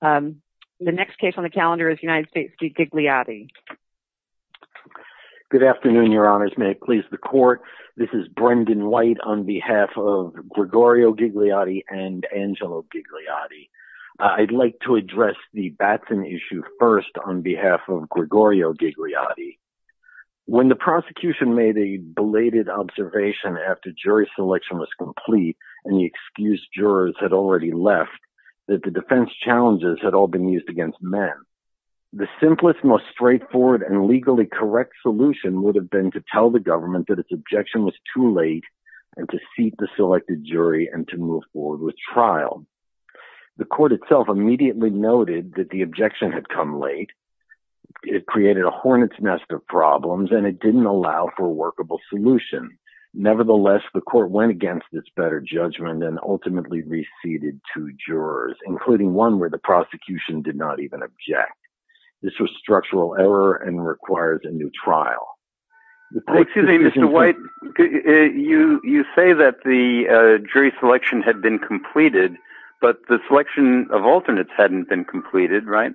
The next case on the calendar is United States v. Gigliotti. Good afternoon, Your Honors. May it please the Court. This is Brendan White on behalf of Gregorio Gigliotti and Angelo Gigliotti. I'd like to address the Batson issue first on behalf of Gregorio Gigliotti. When the prosecution made a belated observation after jury selection was complete and the excused jurors had already left, that the defense challenges had all been used against men. The simplest, most straightforward, and legally correct solution would have been to tell the government that its objection was too late and to seat the selected jury and to move forward with trial. The Court itself immediately noted that the objection had come late, it created a hornet's nest of problems, and it didn't allow for a workable solution. Nevertheless, the Court went against this better judgment and ultimately reseated two jurors, including one where the prosecution did not even object. This was structural error and requires a new trial. Excuse me, Mr. White, you say that the jury selection had been completed, but the selection of alternates hadn't been completed, right?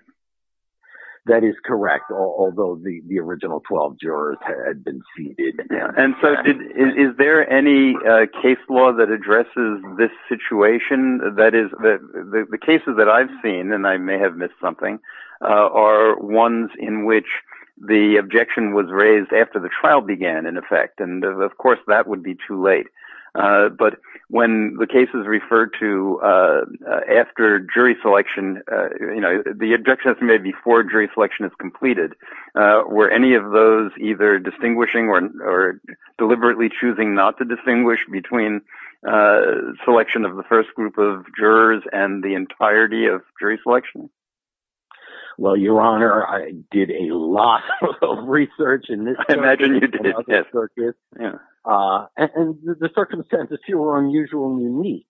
That is correct, although the original 12 jurors had been seated. And so is there any case law that addresses this situation? That is, the cases that I've seen, and I may have missed something, are ones in which the objection was raised after the trial began, in effect, and of course that would be too late. But when the case is referred to after jury selection, the objection has to be made before jury selection is completed, were any of those either distinguishing or deliberately choosing not to distinguish between selection of the first group of jurors and the entirety of jury selection? Well, Your Honor, I did a lot of research in this circuit. I imagine you did, yes. And the circumstances here were unusual and unique.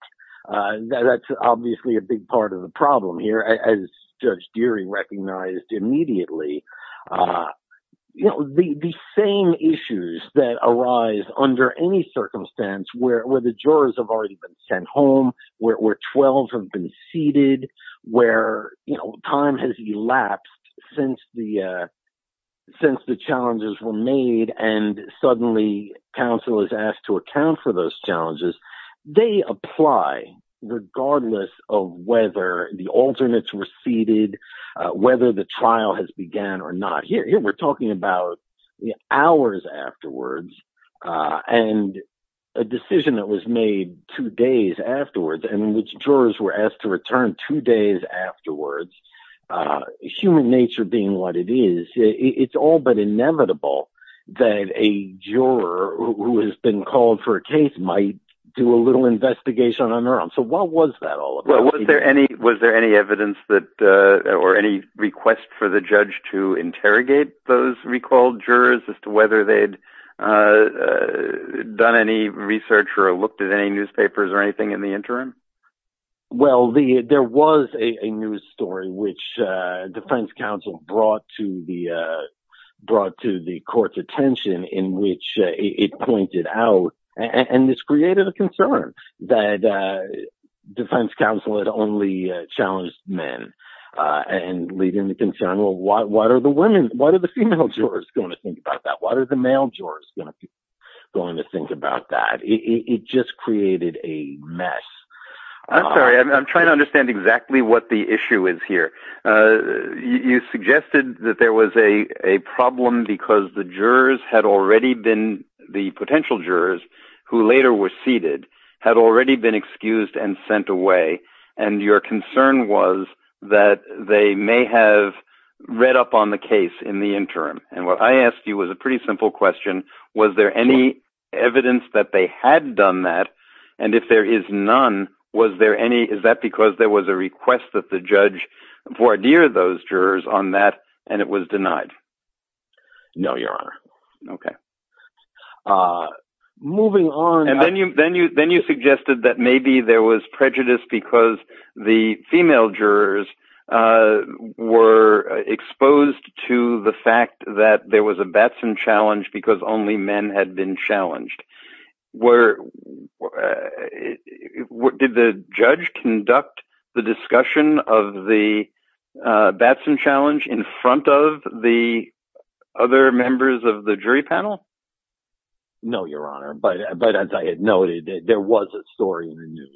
That's obviously a big part of the problem here. As Judge Deering recognized immediately, the same issues that arise under any circumstance where the jurors have already been sent home, where 12 have been seated, where time has elapsed since the challenges were made and suddenly counsel is asked to account for those challenges, they apply regardless of whether the alternates were seated, whether the trial has begun or not. Here we're talking about hours afterwards and a decision that was made two days afterwards in which jurors were asked to return two days afterwards, human nature being what it is, it's all but inevitable that a juror who has been called for a case might do a little investigation on their own. So what was that all about? Was there any evidence or any request for the judge to interrogate those recalled jurors as to whether they'd done any research or looked at any newspapers or anything in the interim? Well, there was a news story which defense counsel brought to the court's attention in which it pointed out, it just created a concern that defense counsel had only challenged men and leading the concern, well, what are the women, what are the female jurors going to think about that? What are the male jurors going to think about that? It just created a mess. I'm sorry, I'm trying to understand exactly what the issue is here. You suggested that there was a problem because the jurors had already been, the potential jurors who later were seated, had already been excused and sent away, and your concern was that they may have read up on the case in the interim. And what I asked you was a pretty simple question. Was there any evidence that they had done that? And if there is none, was there any, is that because there was a request that the judge voir dire those jurors on that and it was denied? No, Your Honor. Okay. Moving on. And then you suggested that maybe there was prejudice because the female jurors were exposed to the fact that there was a Batson challenge because only men had been challenged. Did the judge conduct the discussion of the Batson challenge in front of the other members of the jury panel? No, Your Honor. But as I had noted, there was a story in the news.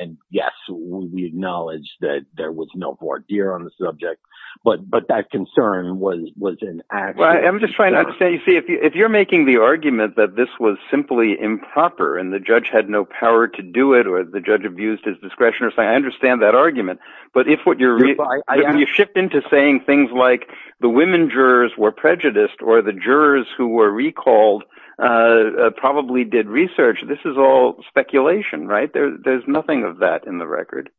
And yes, we acknowledge that there was no voir dire on the subject. But that concern was an active concern. Well, I'm just trying to understand. You see, if you're making the argument that this was simply improper and the judge had no power to do it or the judge abused his discretion, I understand that argument. But if you shift into saying things like the women jurors were prejudiced or the jurors who were recalled probably did research, this is all speculation, right? There's nothing of that in the record.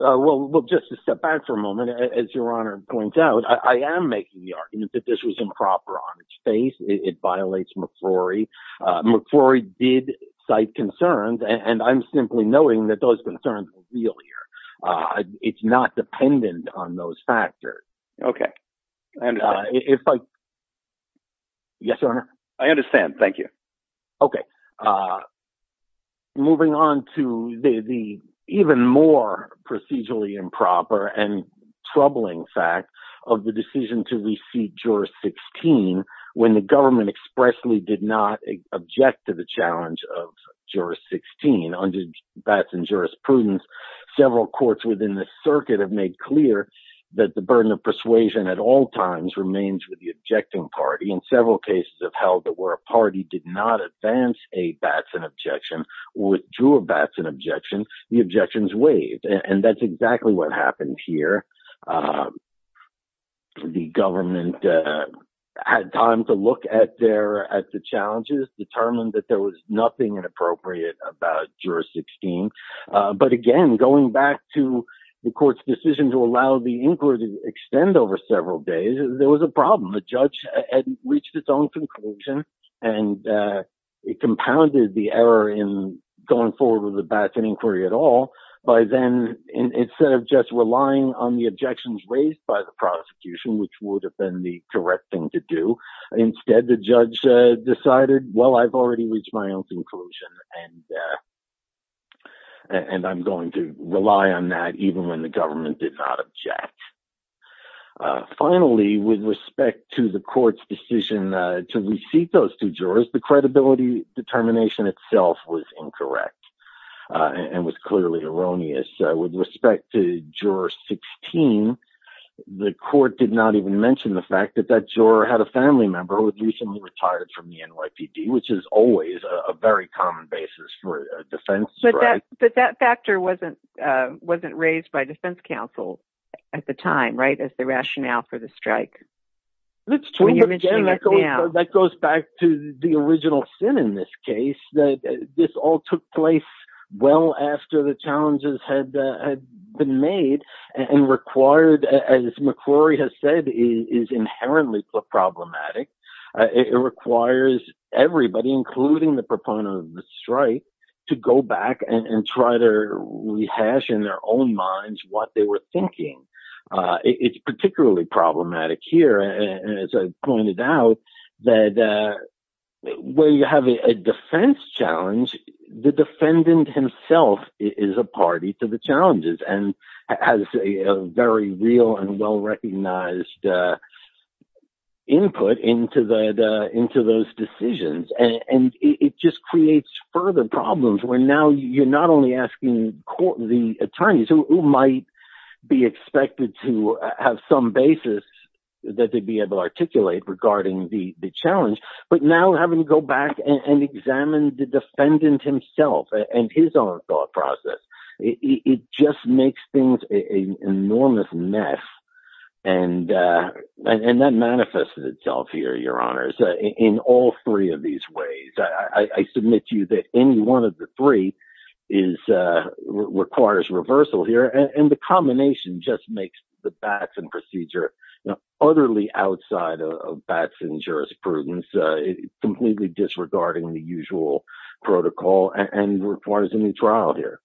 Well, just to step back for a moment, as Your Honor points out, I am making the argument that this was improper on its face. It violates McCrory. McCrory did cite concerns. And I'm simply noting that those concerns are real here. It's not dependent on those factors. Okay. I understand. Yes, Your Honor. I understand. Thank you. Okay. Moving on to the even more procedurally improper and troubling fact of the decision to receive Juror 16 when the government expressly did not object to the challenge of Juror 16 under Batson jurisprudence. Several courts within the circuit have made clear that the burden of persuasion at all times remains with the objecting party. And several cases have held that where a party did not advance a Batson objection or withdrew a Batson objection, the objections waived. And that's exactly what happened here. The government had time to look at the challenges, determined that there was nothing inappropriate about Juror 16. But again, going back to the court's decision to allow the inquiry to extend over several days, there was a problem. The judge had reached its own conclusion, and it compounded the error in going forward with a Batson inquiry at all by then, instead of just relying on the objections raised by the prosecution, which would have been the correct thing to do, instead the judge decided, well, I've already reached my own conclusion, and I'm going to rely on that even when the government did not object. Finally, with respect to the court's decision to receive those two jurors, the credibility determination itself was incorrect and was clearly erroneous. With respect to Juror 16, the court did not even mention the fact that that juror had a family member who had recently retired from the NYPD, which is always a very common basis for a defense strike. But that factor wasn't raised by defense counsel at the time, right, as the rationale for the strike. That goes back to the original sin in this case, that this all took place well after the challenges had been made and required, as McCrory has said, is inherently problematic. It requires everybody, including the proponent of the strike, to go back and try to rehash in their own minds what they were thinking. It's particularly problematic here, as I pointed out, that when you have a defense challenge, the defendant himself is a party to the challenges and has a very real and well-recognized input into those decisions. It just creates further problems, where now you're not only asking the attorneys, who might be expected to have some basis that they'd be able to articulate regarding the challenge, but now having to go back and examine the defendant himself and his own thought process. It just makes things an enormous mess. And that manifests itself here, Your Honors, in all three of these ways. I submit to you that any one of the three requires reversal here. And the combination just makes the Batson procedure utterly outside of Batson's jurisprudence, completely disregarding the usual protocol and requires a new trial here.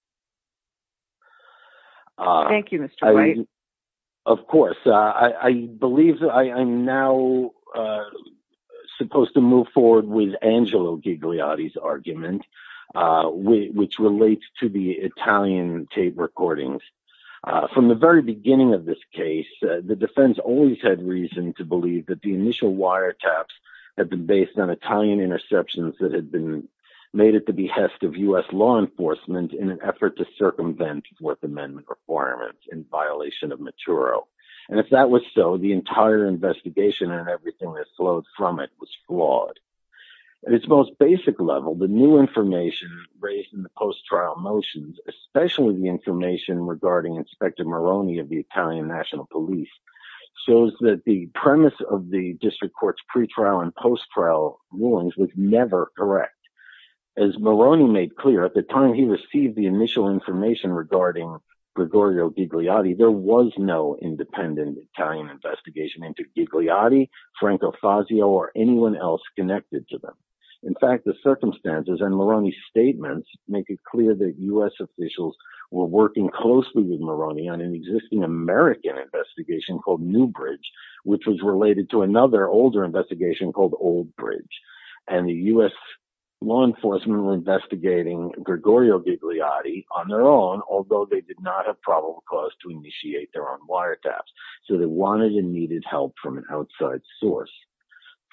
Thank you, Mr. White. Of course. I believe I'm now supposed to move forward with Angelo Gigliotti's argument, which relates to the Italian tape recordings. From the very beginning of this case, the defense always had reason to believe that the initial wiretaps had been based on Italian interceptions that had been made at the behest of U.S. law enforcement to circumvent the Fourth Amendment requirements in violation of Maturo. And if that was so, the entire investigation and everything that flowed from it was flawed. At its most basic level, the new information raised in the post-trial motions, especially the information regarding Inspector Moroni of the Italian National Police, shows that the premise of the district court's pre-trial and post-trial rulings was never correct. As Moroni made clear, at the time he received the initial information regarding Gregorio Gigliotti, there was no independent Italian investigation into Gigliotti, Franco Fazio, or anyone else connected to them. In fact, the circumstances and Moroni's statements make it clear that U.S. officials were working closely with Moroni on an existing American investigation called Newbridge, which was related to another older investigation called Oldbridge. And the U.S. law enforcement were investigating Gregorio Gigliotti on their own, although they did not have probable cause to initiate their own wiretaps. So they wanted and needed help from an outside source.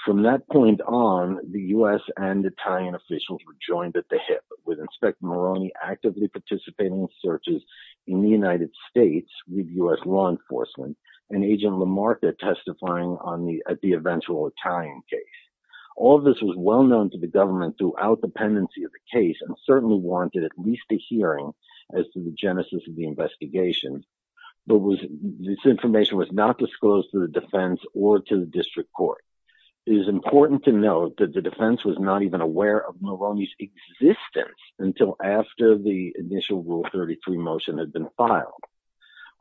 From that point on, the U.S. and Italian officials were joined at the hip, with Inspector Moroni actively participating in searches in the United States with U.S. law enforcement and Agent Lamarca testifying at the eventual Italian case. All of this was well known to the government throughout the pendency of the case and warranted at least a hearing as to the genesis of the investigation. But this information was not disclosed to the defense or to the district court. It is important to note that the defense was not even aware of Moroni's existence until after the initial Rule 33 motion had been filed.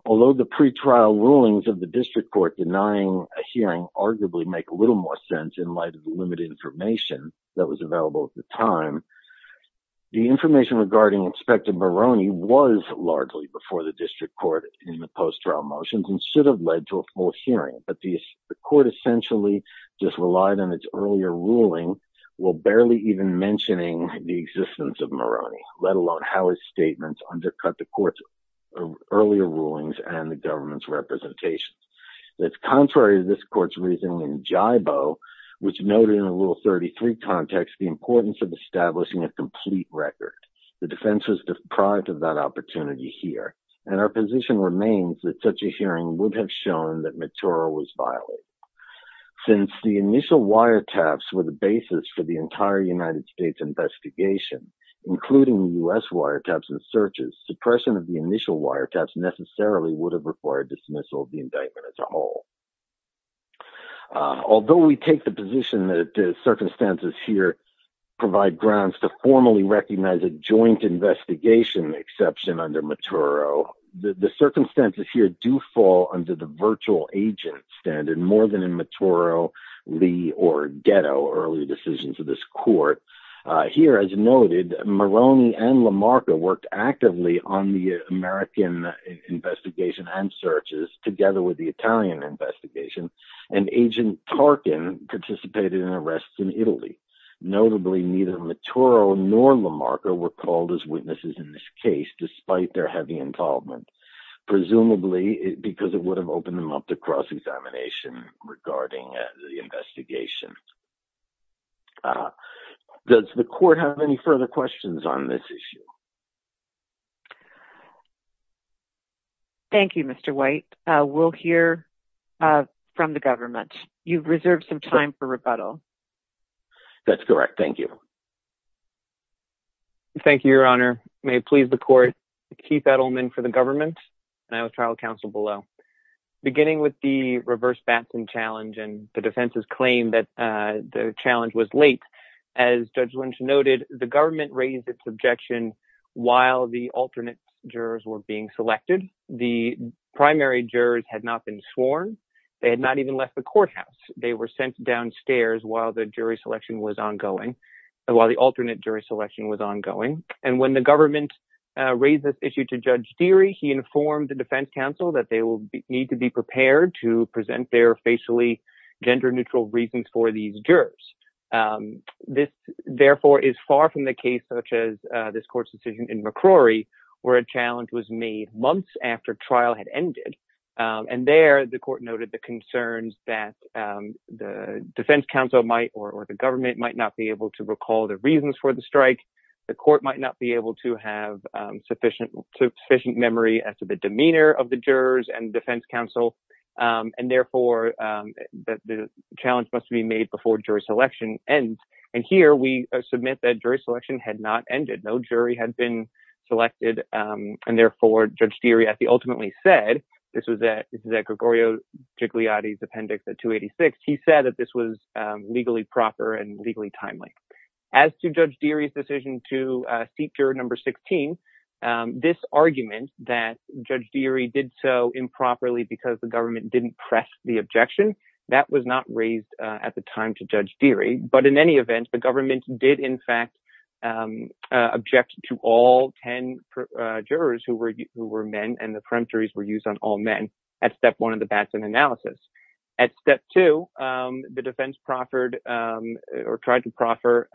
Although the pretrial rulings of the district court denying a hearing arguably make a little more sense in light of the limited information that was available at the time, the information regarding Inspector Moroni was largely before the district court in the post-trial motions and should have led to a full hearing. But the court essentially just relied on its earlier ruling, while barely even mentioning the existence of Moroni, let alone how his statements undercut the court's earlier rulings and the government's representations. That's contrary to this court's reasoning in GIBO, which noted in the Rule 33 context the importance of establishing a complete record. The defense was deprived of that opportunity here, and our position remains that such a hearing would have shown that Matura was violated. Since the initial wiretaps were the basis for the entire United States investigation, including the U.S. wiretaps and searches, suppression of the initial wiretaps necessarily would have required dismissal of the indictment as a whole. Although we take the position that the circumstances here provide grounds to formally recognize a joint investigation exception under Matura, the circumstances here do fall under the virtual agent standard more than in Matura, Lee, or Ghetto, early decisions of this court. Here, as noted, Moroni and Lamarca worked actively on the American investigation and searches, together with the Italian investigation, and Agent Tarkin participated in arrests in Italy. Notably, neither Matura nor Lamarca were called as witnesses in this case, despite their heavy involvement, presumably because it would have opened them up to cross-examination regarding the investigation. Does the court have any further questions on this issue? Thank you, Mr. White. We'll hear from the government. You've reserved some time for rebuttal. That's correct. Thank you. Thank you, Your Honor. May it please the court, Keith Edelman for the government, and I was trial counsel below. Beginning with the reverse Batson challenge and the defense's claim that the challenge was late, as Judge Lynch noted, the government raised its objection while the alternate jurors were being selected. The primary jurors had not been sworn. They had not even left the courthouse. They were sent downstairs while the jury selection was ongoing, while the alternate jury selection was ongoing. And when the government raised this issue to Judge Deery, he informed the defense counsel that they will need to be prepared to present their facially gender-neutral reasons for these jurors. This, therefore, is far from the case where a challenge was made months after trial had ended. And there, the court noted the concerns that the defense counsel might, or the government might not be able to recall the reasons for the strike. The court might not be able to have sufficient memory as to the demeanor of the jurors and defense counsel. And, therefore, the challenge must be made before jury selection ends. And here, we submit that jury selection had not ended. No jury had been selected. And, therefore, Judge Deery, as he ultimately said, this was at Gregorio Gigliotti's appendix at 286, he said that this was legally proper and legally timely. As to Judge Deery's decision to seat juror number 16, this argument that Judge Deery did so improperly because the government didn't press the objection, that was not raised at the time to Judge Deery. But, in any event, the government did, in fact, object to all 10 jurors who were men, and the peremptories were used on all men at step one of the Batson analysis. At step two, the defense proffered or tried to proffer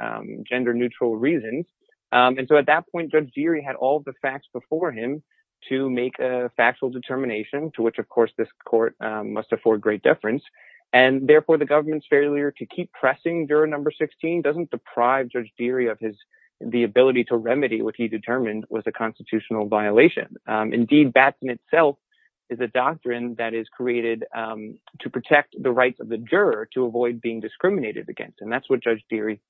gender-neutral reasons. And, so, at that point, Judge Deery had all the facts before him to make a factual determination to which, of course, this court must afford great deference. And, therefore, the government's failure to keep pressing juror number 16 doesn't deprive Judge Deery of the ability to remedy what he determined was a constitutional violation. Indeed, Batson itself is a doctrine that is created to protect the rights of the juror to avoid being discriminated against. And that's what Judge Deery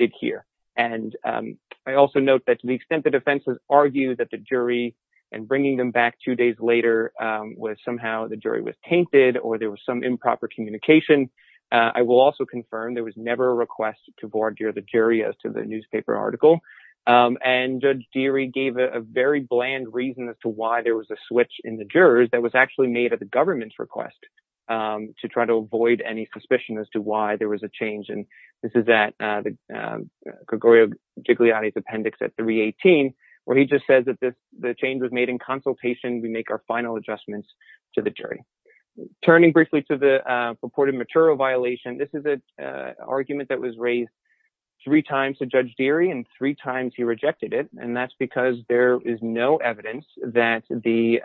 did here. And I also note that to the extent the defense has argued that the jury, and bringing them back two days later was somehow the jury was tainted or there was some improper communication, I will also confirm there was never a request to voir dire the jury as to the newspaper article. And Judge Deery gave a very bland reason as to why there was a switch in the jurors that was actually made at the government's request to try to avoid any suspicion as to why there was a change. And this is at Gregorio Gigliotti's appendix at 318 where he just says that the change was made in consultation. We make our final adjustments to the jury. Turning briefly to the purported matural violation, this is an argument that was raised three times to Judge Deery and three times he rejected it. And that's because there is no evidence that the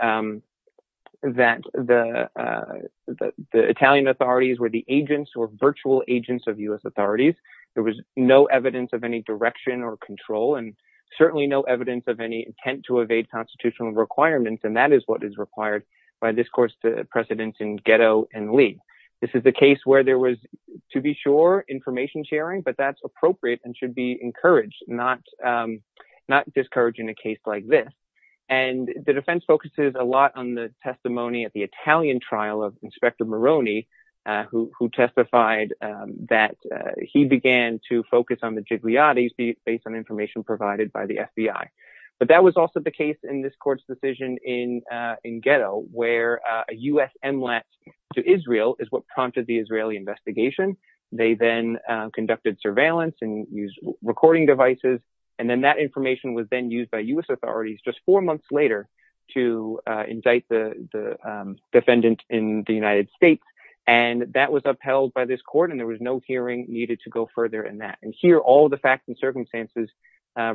Italian authorities were the agents or virtual agents of U.S. authorities. There was no evidence of any direction or control and certainly no evidence of any intent to evade constitutional requirements. And that is what is required by this court's precedents in Ghetto and Lee. This is the case where there was, to be sure, information sharing that's appropriate and should be encouraged, not discouraging a case like this. And the defense focuses a lot on the testimony at the Italian trial of Inspector Moroni who testified that he began to focus on the Gigliottis based on information provided by the FBI. But that was also the case in this court's decision in Ghetto where a U.S. inlet to Israel is what prompted the Israeli investigation. They then conducted surveillance and used recording devices. And then that information was then used by U.S. authorities just four months later to indict the defendant in the United States. And that was upheld by this court and there was no hearing needed to go further in that. And here all the facts and circumstances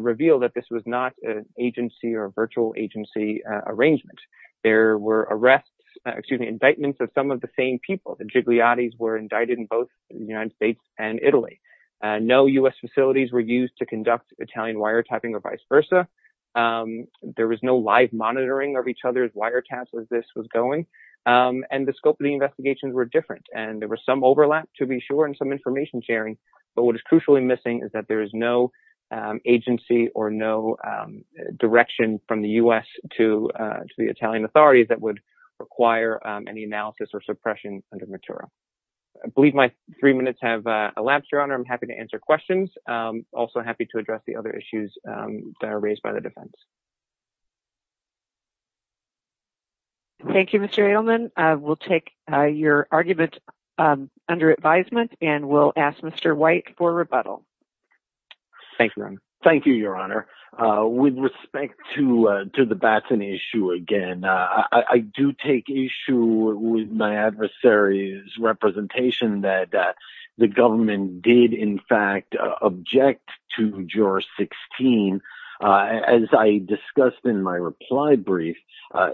reveal that this was not an agency or virtual agency arrangement. There were arrests, excuse me, indictments of some of the same people. The Gigliottis were indicted in the United States and Italy. No U.S. facilities were used to conduct Italian wiretapping or vice versa. There was no live monitoring of each other's wiretaps as this was going. And the scope of the investigations were different and there was some overlap to be sure and some information sharing. But what is crucially missing is that there is no agency or no direction from the U.S. to the Italian authorities that would require any analysis or suppression under Matura. So I think those three minutes have elapsed, Your Honor. I'm happy to answer questions. Also happy to address the other issues that are raised by the defense. Thank you, Mr. Edelman. We'll take your argument under advisement and we'll ask Mr. White for rebuttal. Thank you, Your Honor. Thank you, Your Honor. With respect to the Batson issue again, I do take issue with my adversary's representation that the government did, in fact, object to Juror 16. As I discussed in my reply brief,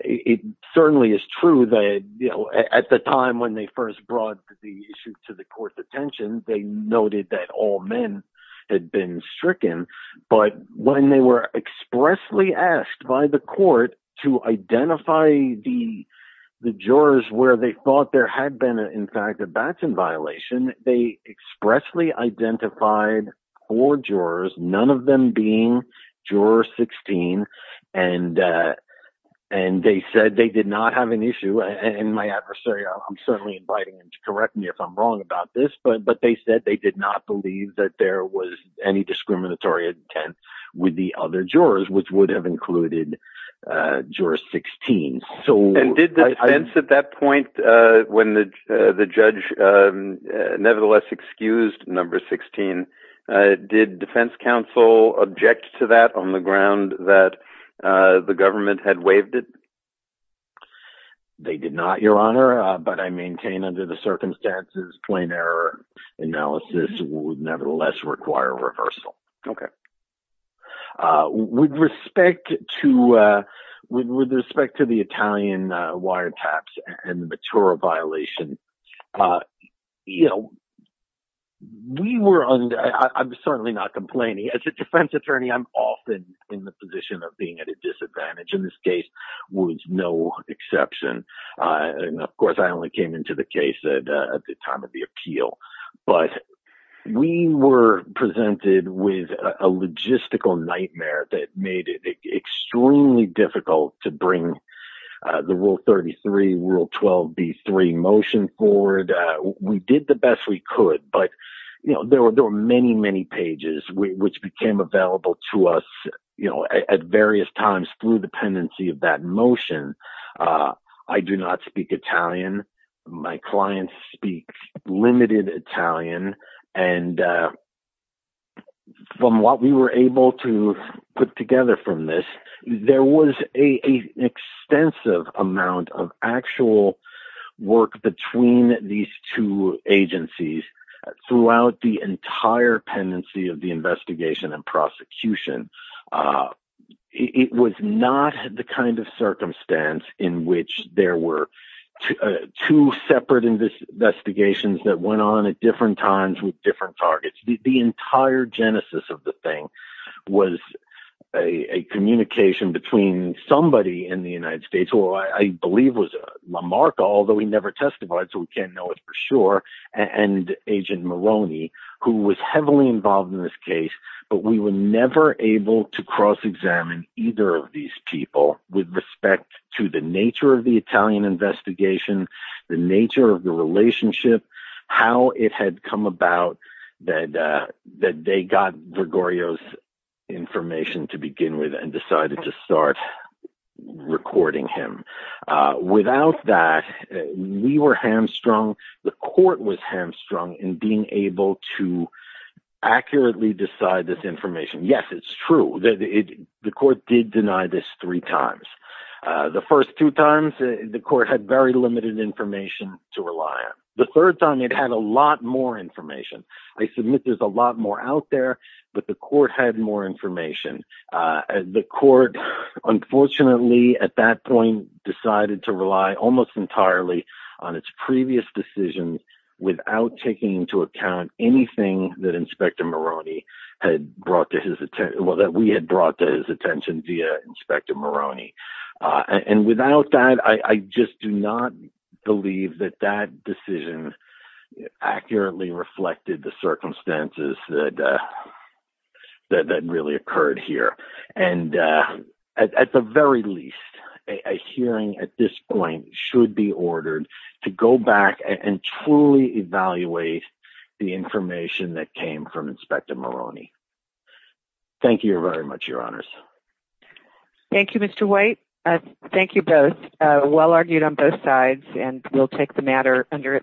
it certainly is true that at the time when they first brought the issue to the court's attention, they noted that all men had been stricken. But when they were expressly asked by the court to identify the jurors where they thought there had been, in fact, a Batson violation, they expressly identified four jurors, none of them being Juror 16, and they said they did not have an issue. And my adversary, I'm certainly inviting him to correct me if I'm wrong about this, but they said they did not believe that there was any discriminatory intent with the other jurors, which would have included Juror 16. And did the defense at that point, when the judge nevertheless excused Number 16, did defense counsel object to that on the ground that the government had waived it? They did not, Your Honor, but I maintain under the circumstances plain error analysis would nevertheless require reversal. Okay. With respect to the Italian wiretaps and the Matura violation, you know, we were, I'm certainly not complaining. As a defense attorney, I'm often in the position of being at a disadvantage. And this case was no exception. And of course, I only came into the case at the time of the appeal. But we were presented with a logistical nightmare that made it extremely difficult to bring the Rule 33, Rule 12, B3 motion forward. We did the best we could, but there were many, many pages, which became available to us at various times through the pendency of that motion. I do not speak Italian. My clients speak limited Italian. And from what we were able to put together from this, there was an extensive amount of actual work between these two agencies throughout the entire pendency of the investigation and prosecution. It was not the kind of circumstance in which there were two separate investigations that went on at different times with different targets. The entire genesis of the thing was a communication between somebody in the United States, who I believe was Lamarca, although he never testified, so we can't know it for sure, and Agent Moroni, who was heavily involved in this case. But we were never able to cross-examine either of these people with respect to the nature of the Italian investigation, the nature of the relationship, how it had come about that they got Gregorio's information to begin with and decided to start recording him. Without that, we were hamstrung, the court was hamstrung in being able to accurately decide this information. Yes, it's true. The court did deny this three times. The first two times, the court had very limited information to rely on. The third time, it had a lot more information. I submit there's a lot more out there, but the court had more information. The court, unfortunately, at that point, decided to rely almost entirely on its previous decisions without taking into account anything that we had brought to his attention via Inspector Moroni. And without that, I just do not believe that that decision accurately reflected the circumstances that really occurred here. And at the very least, a hearing at this point should be ordered to go back and truly evaluate the information that came from Inspector Moroni. Thank you very much, Your Honors. Thank you, Mr. White. Thank you both. Well argued on both sides, and we'll take the matter under advisement.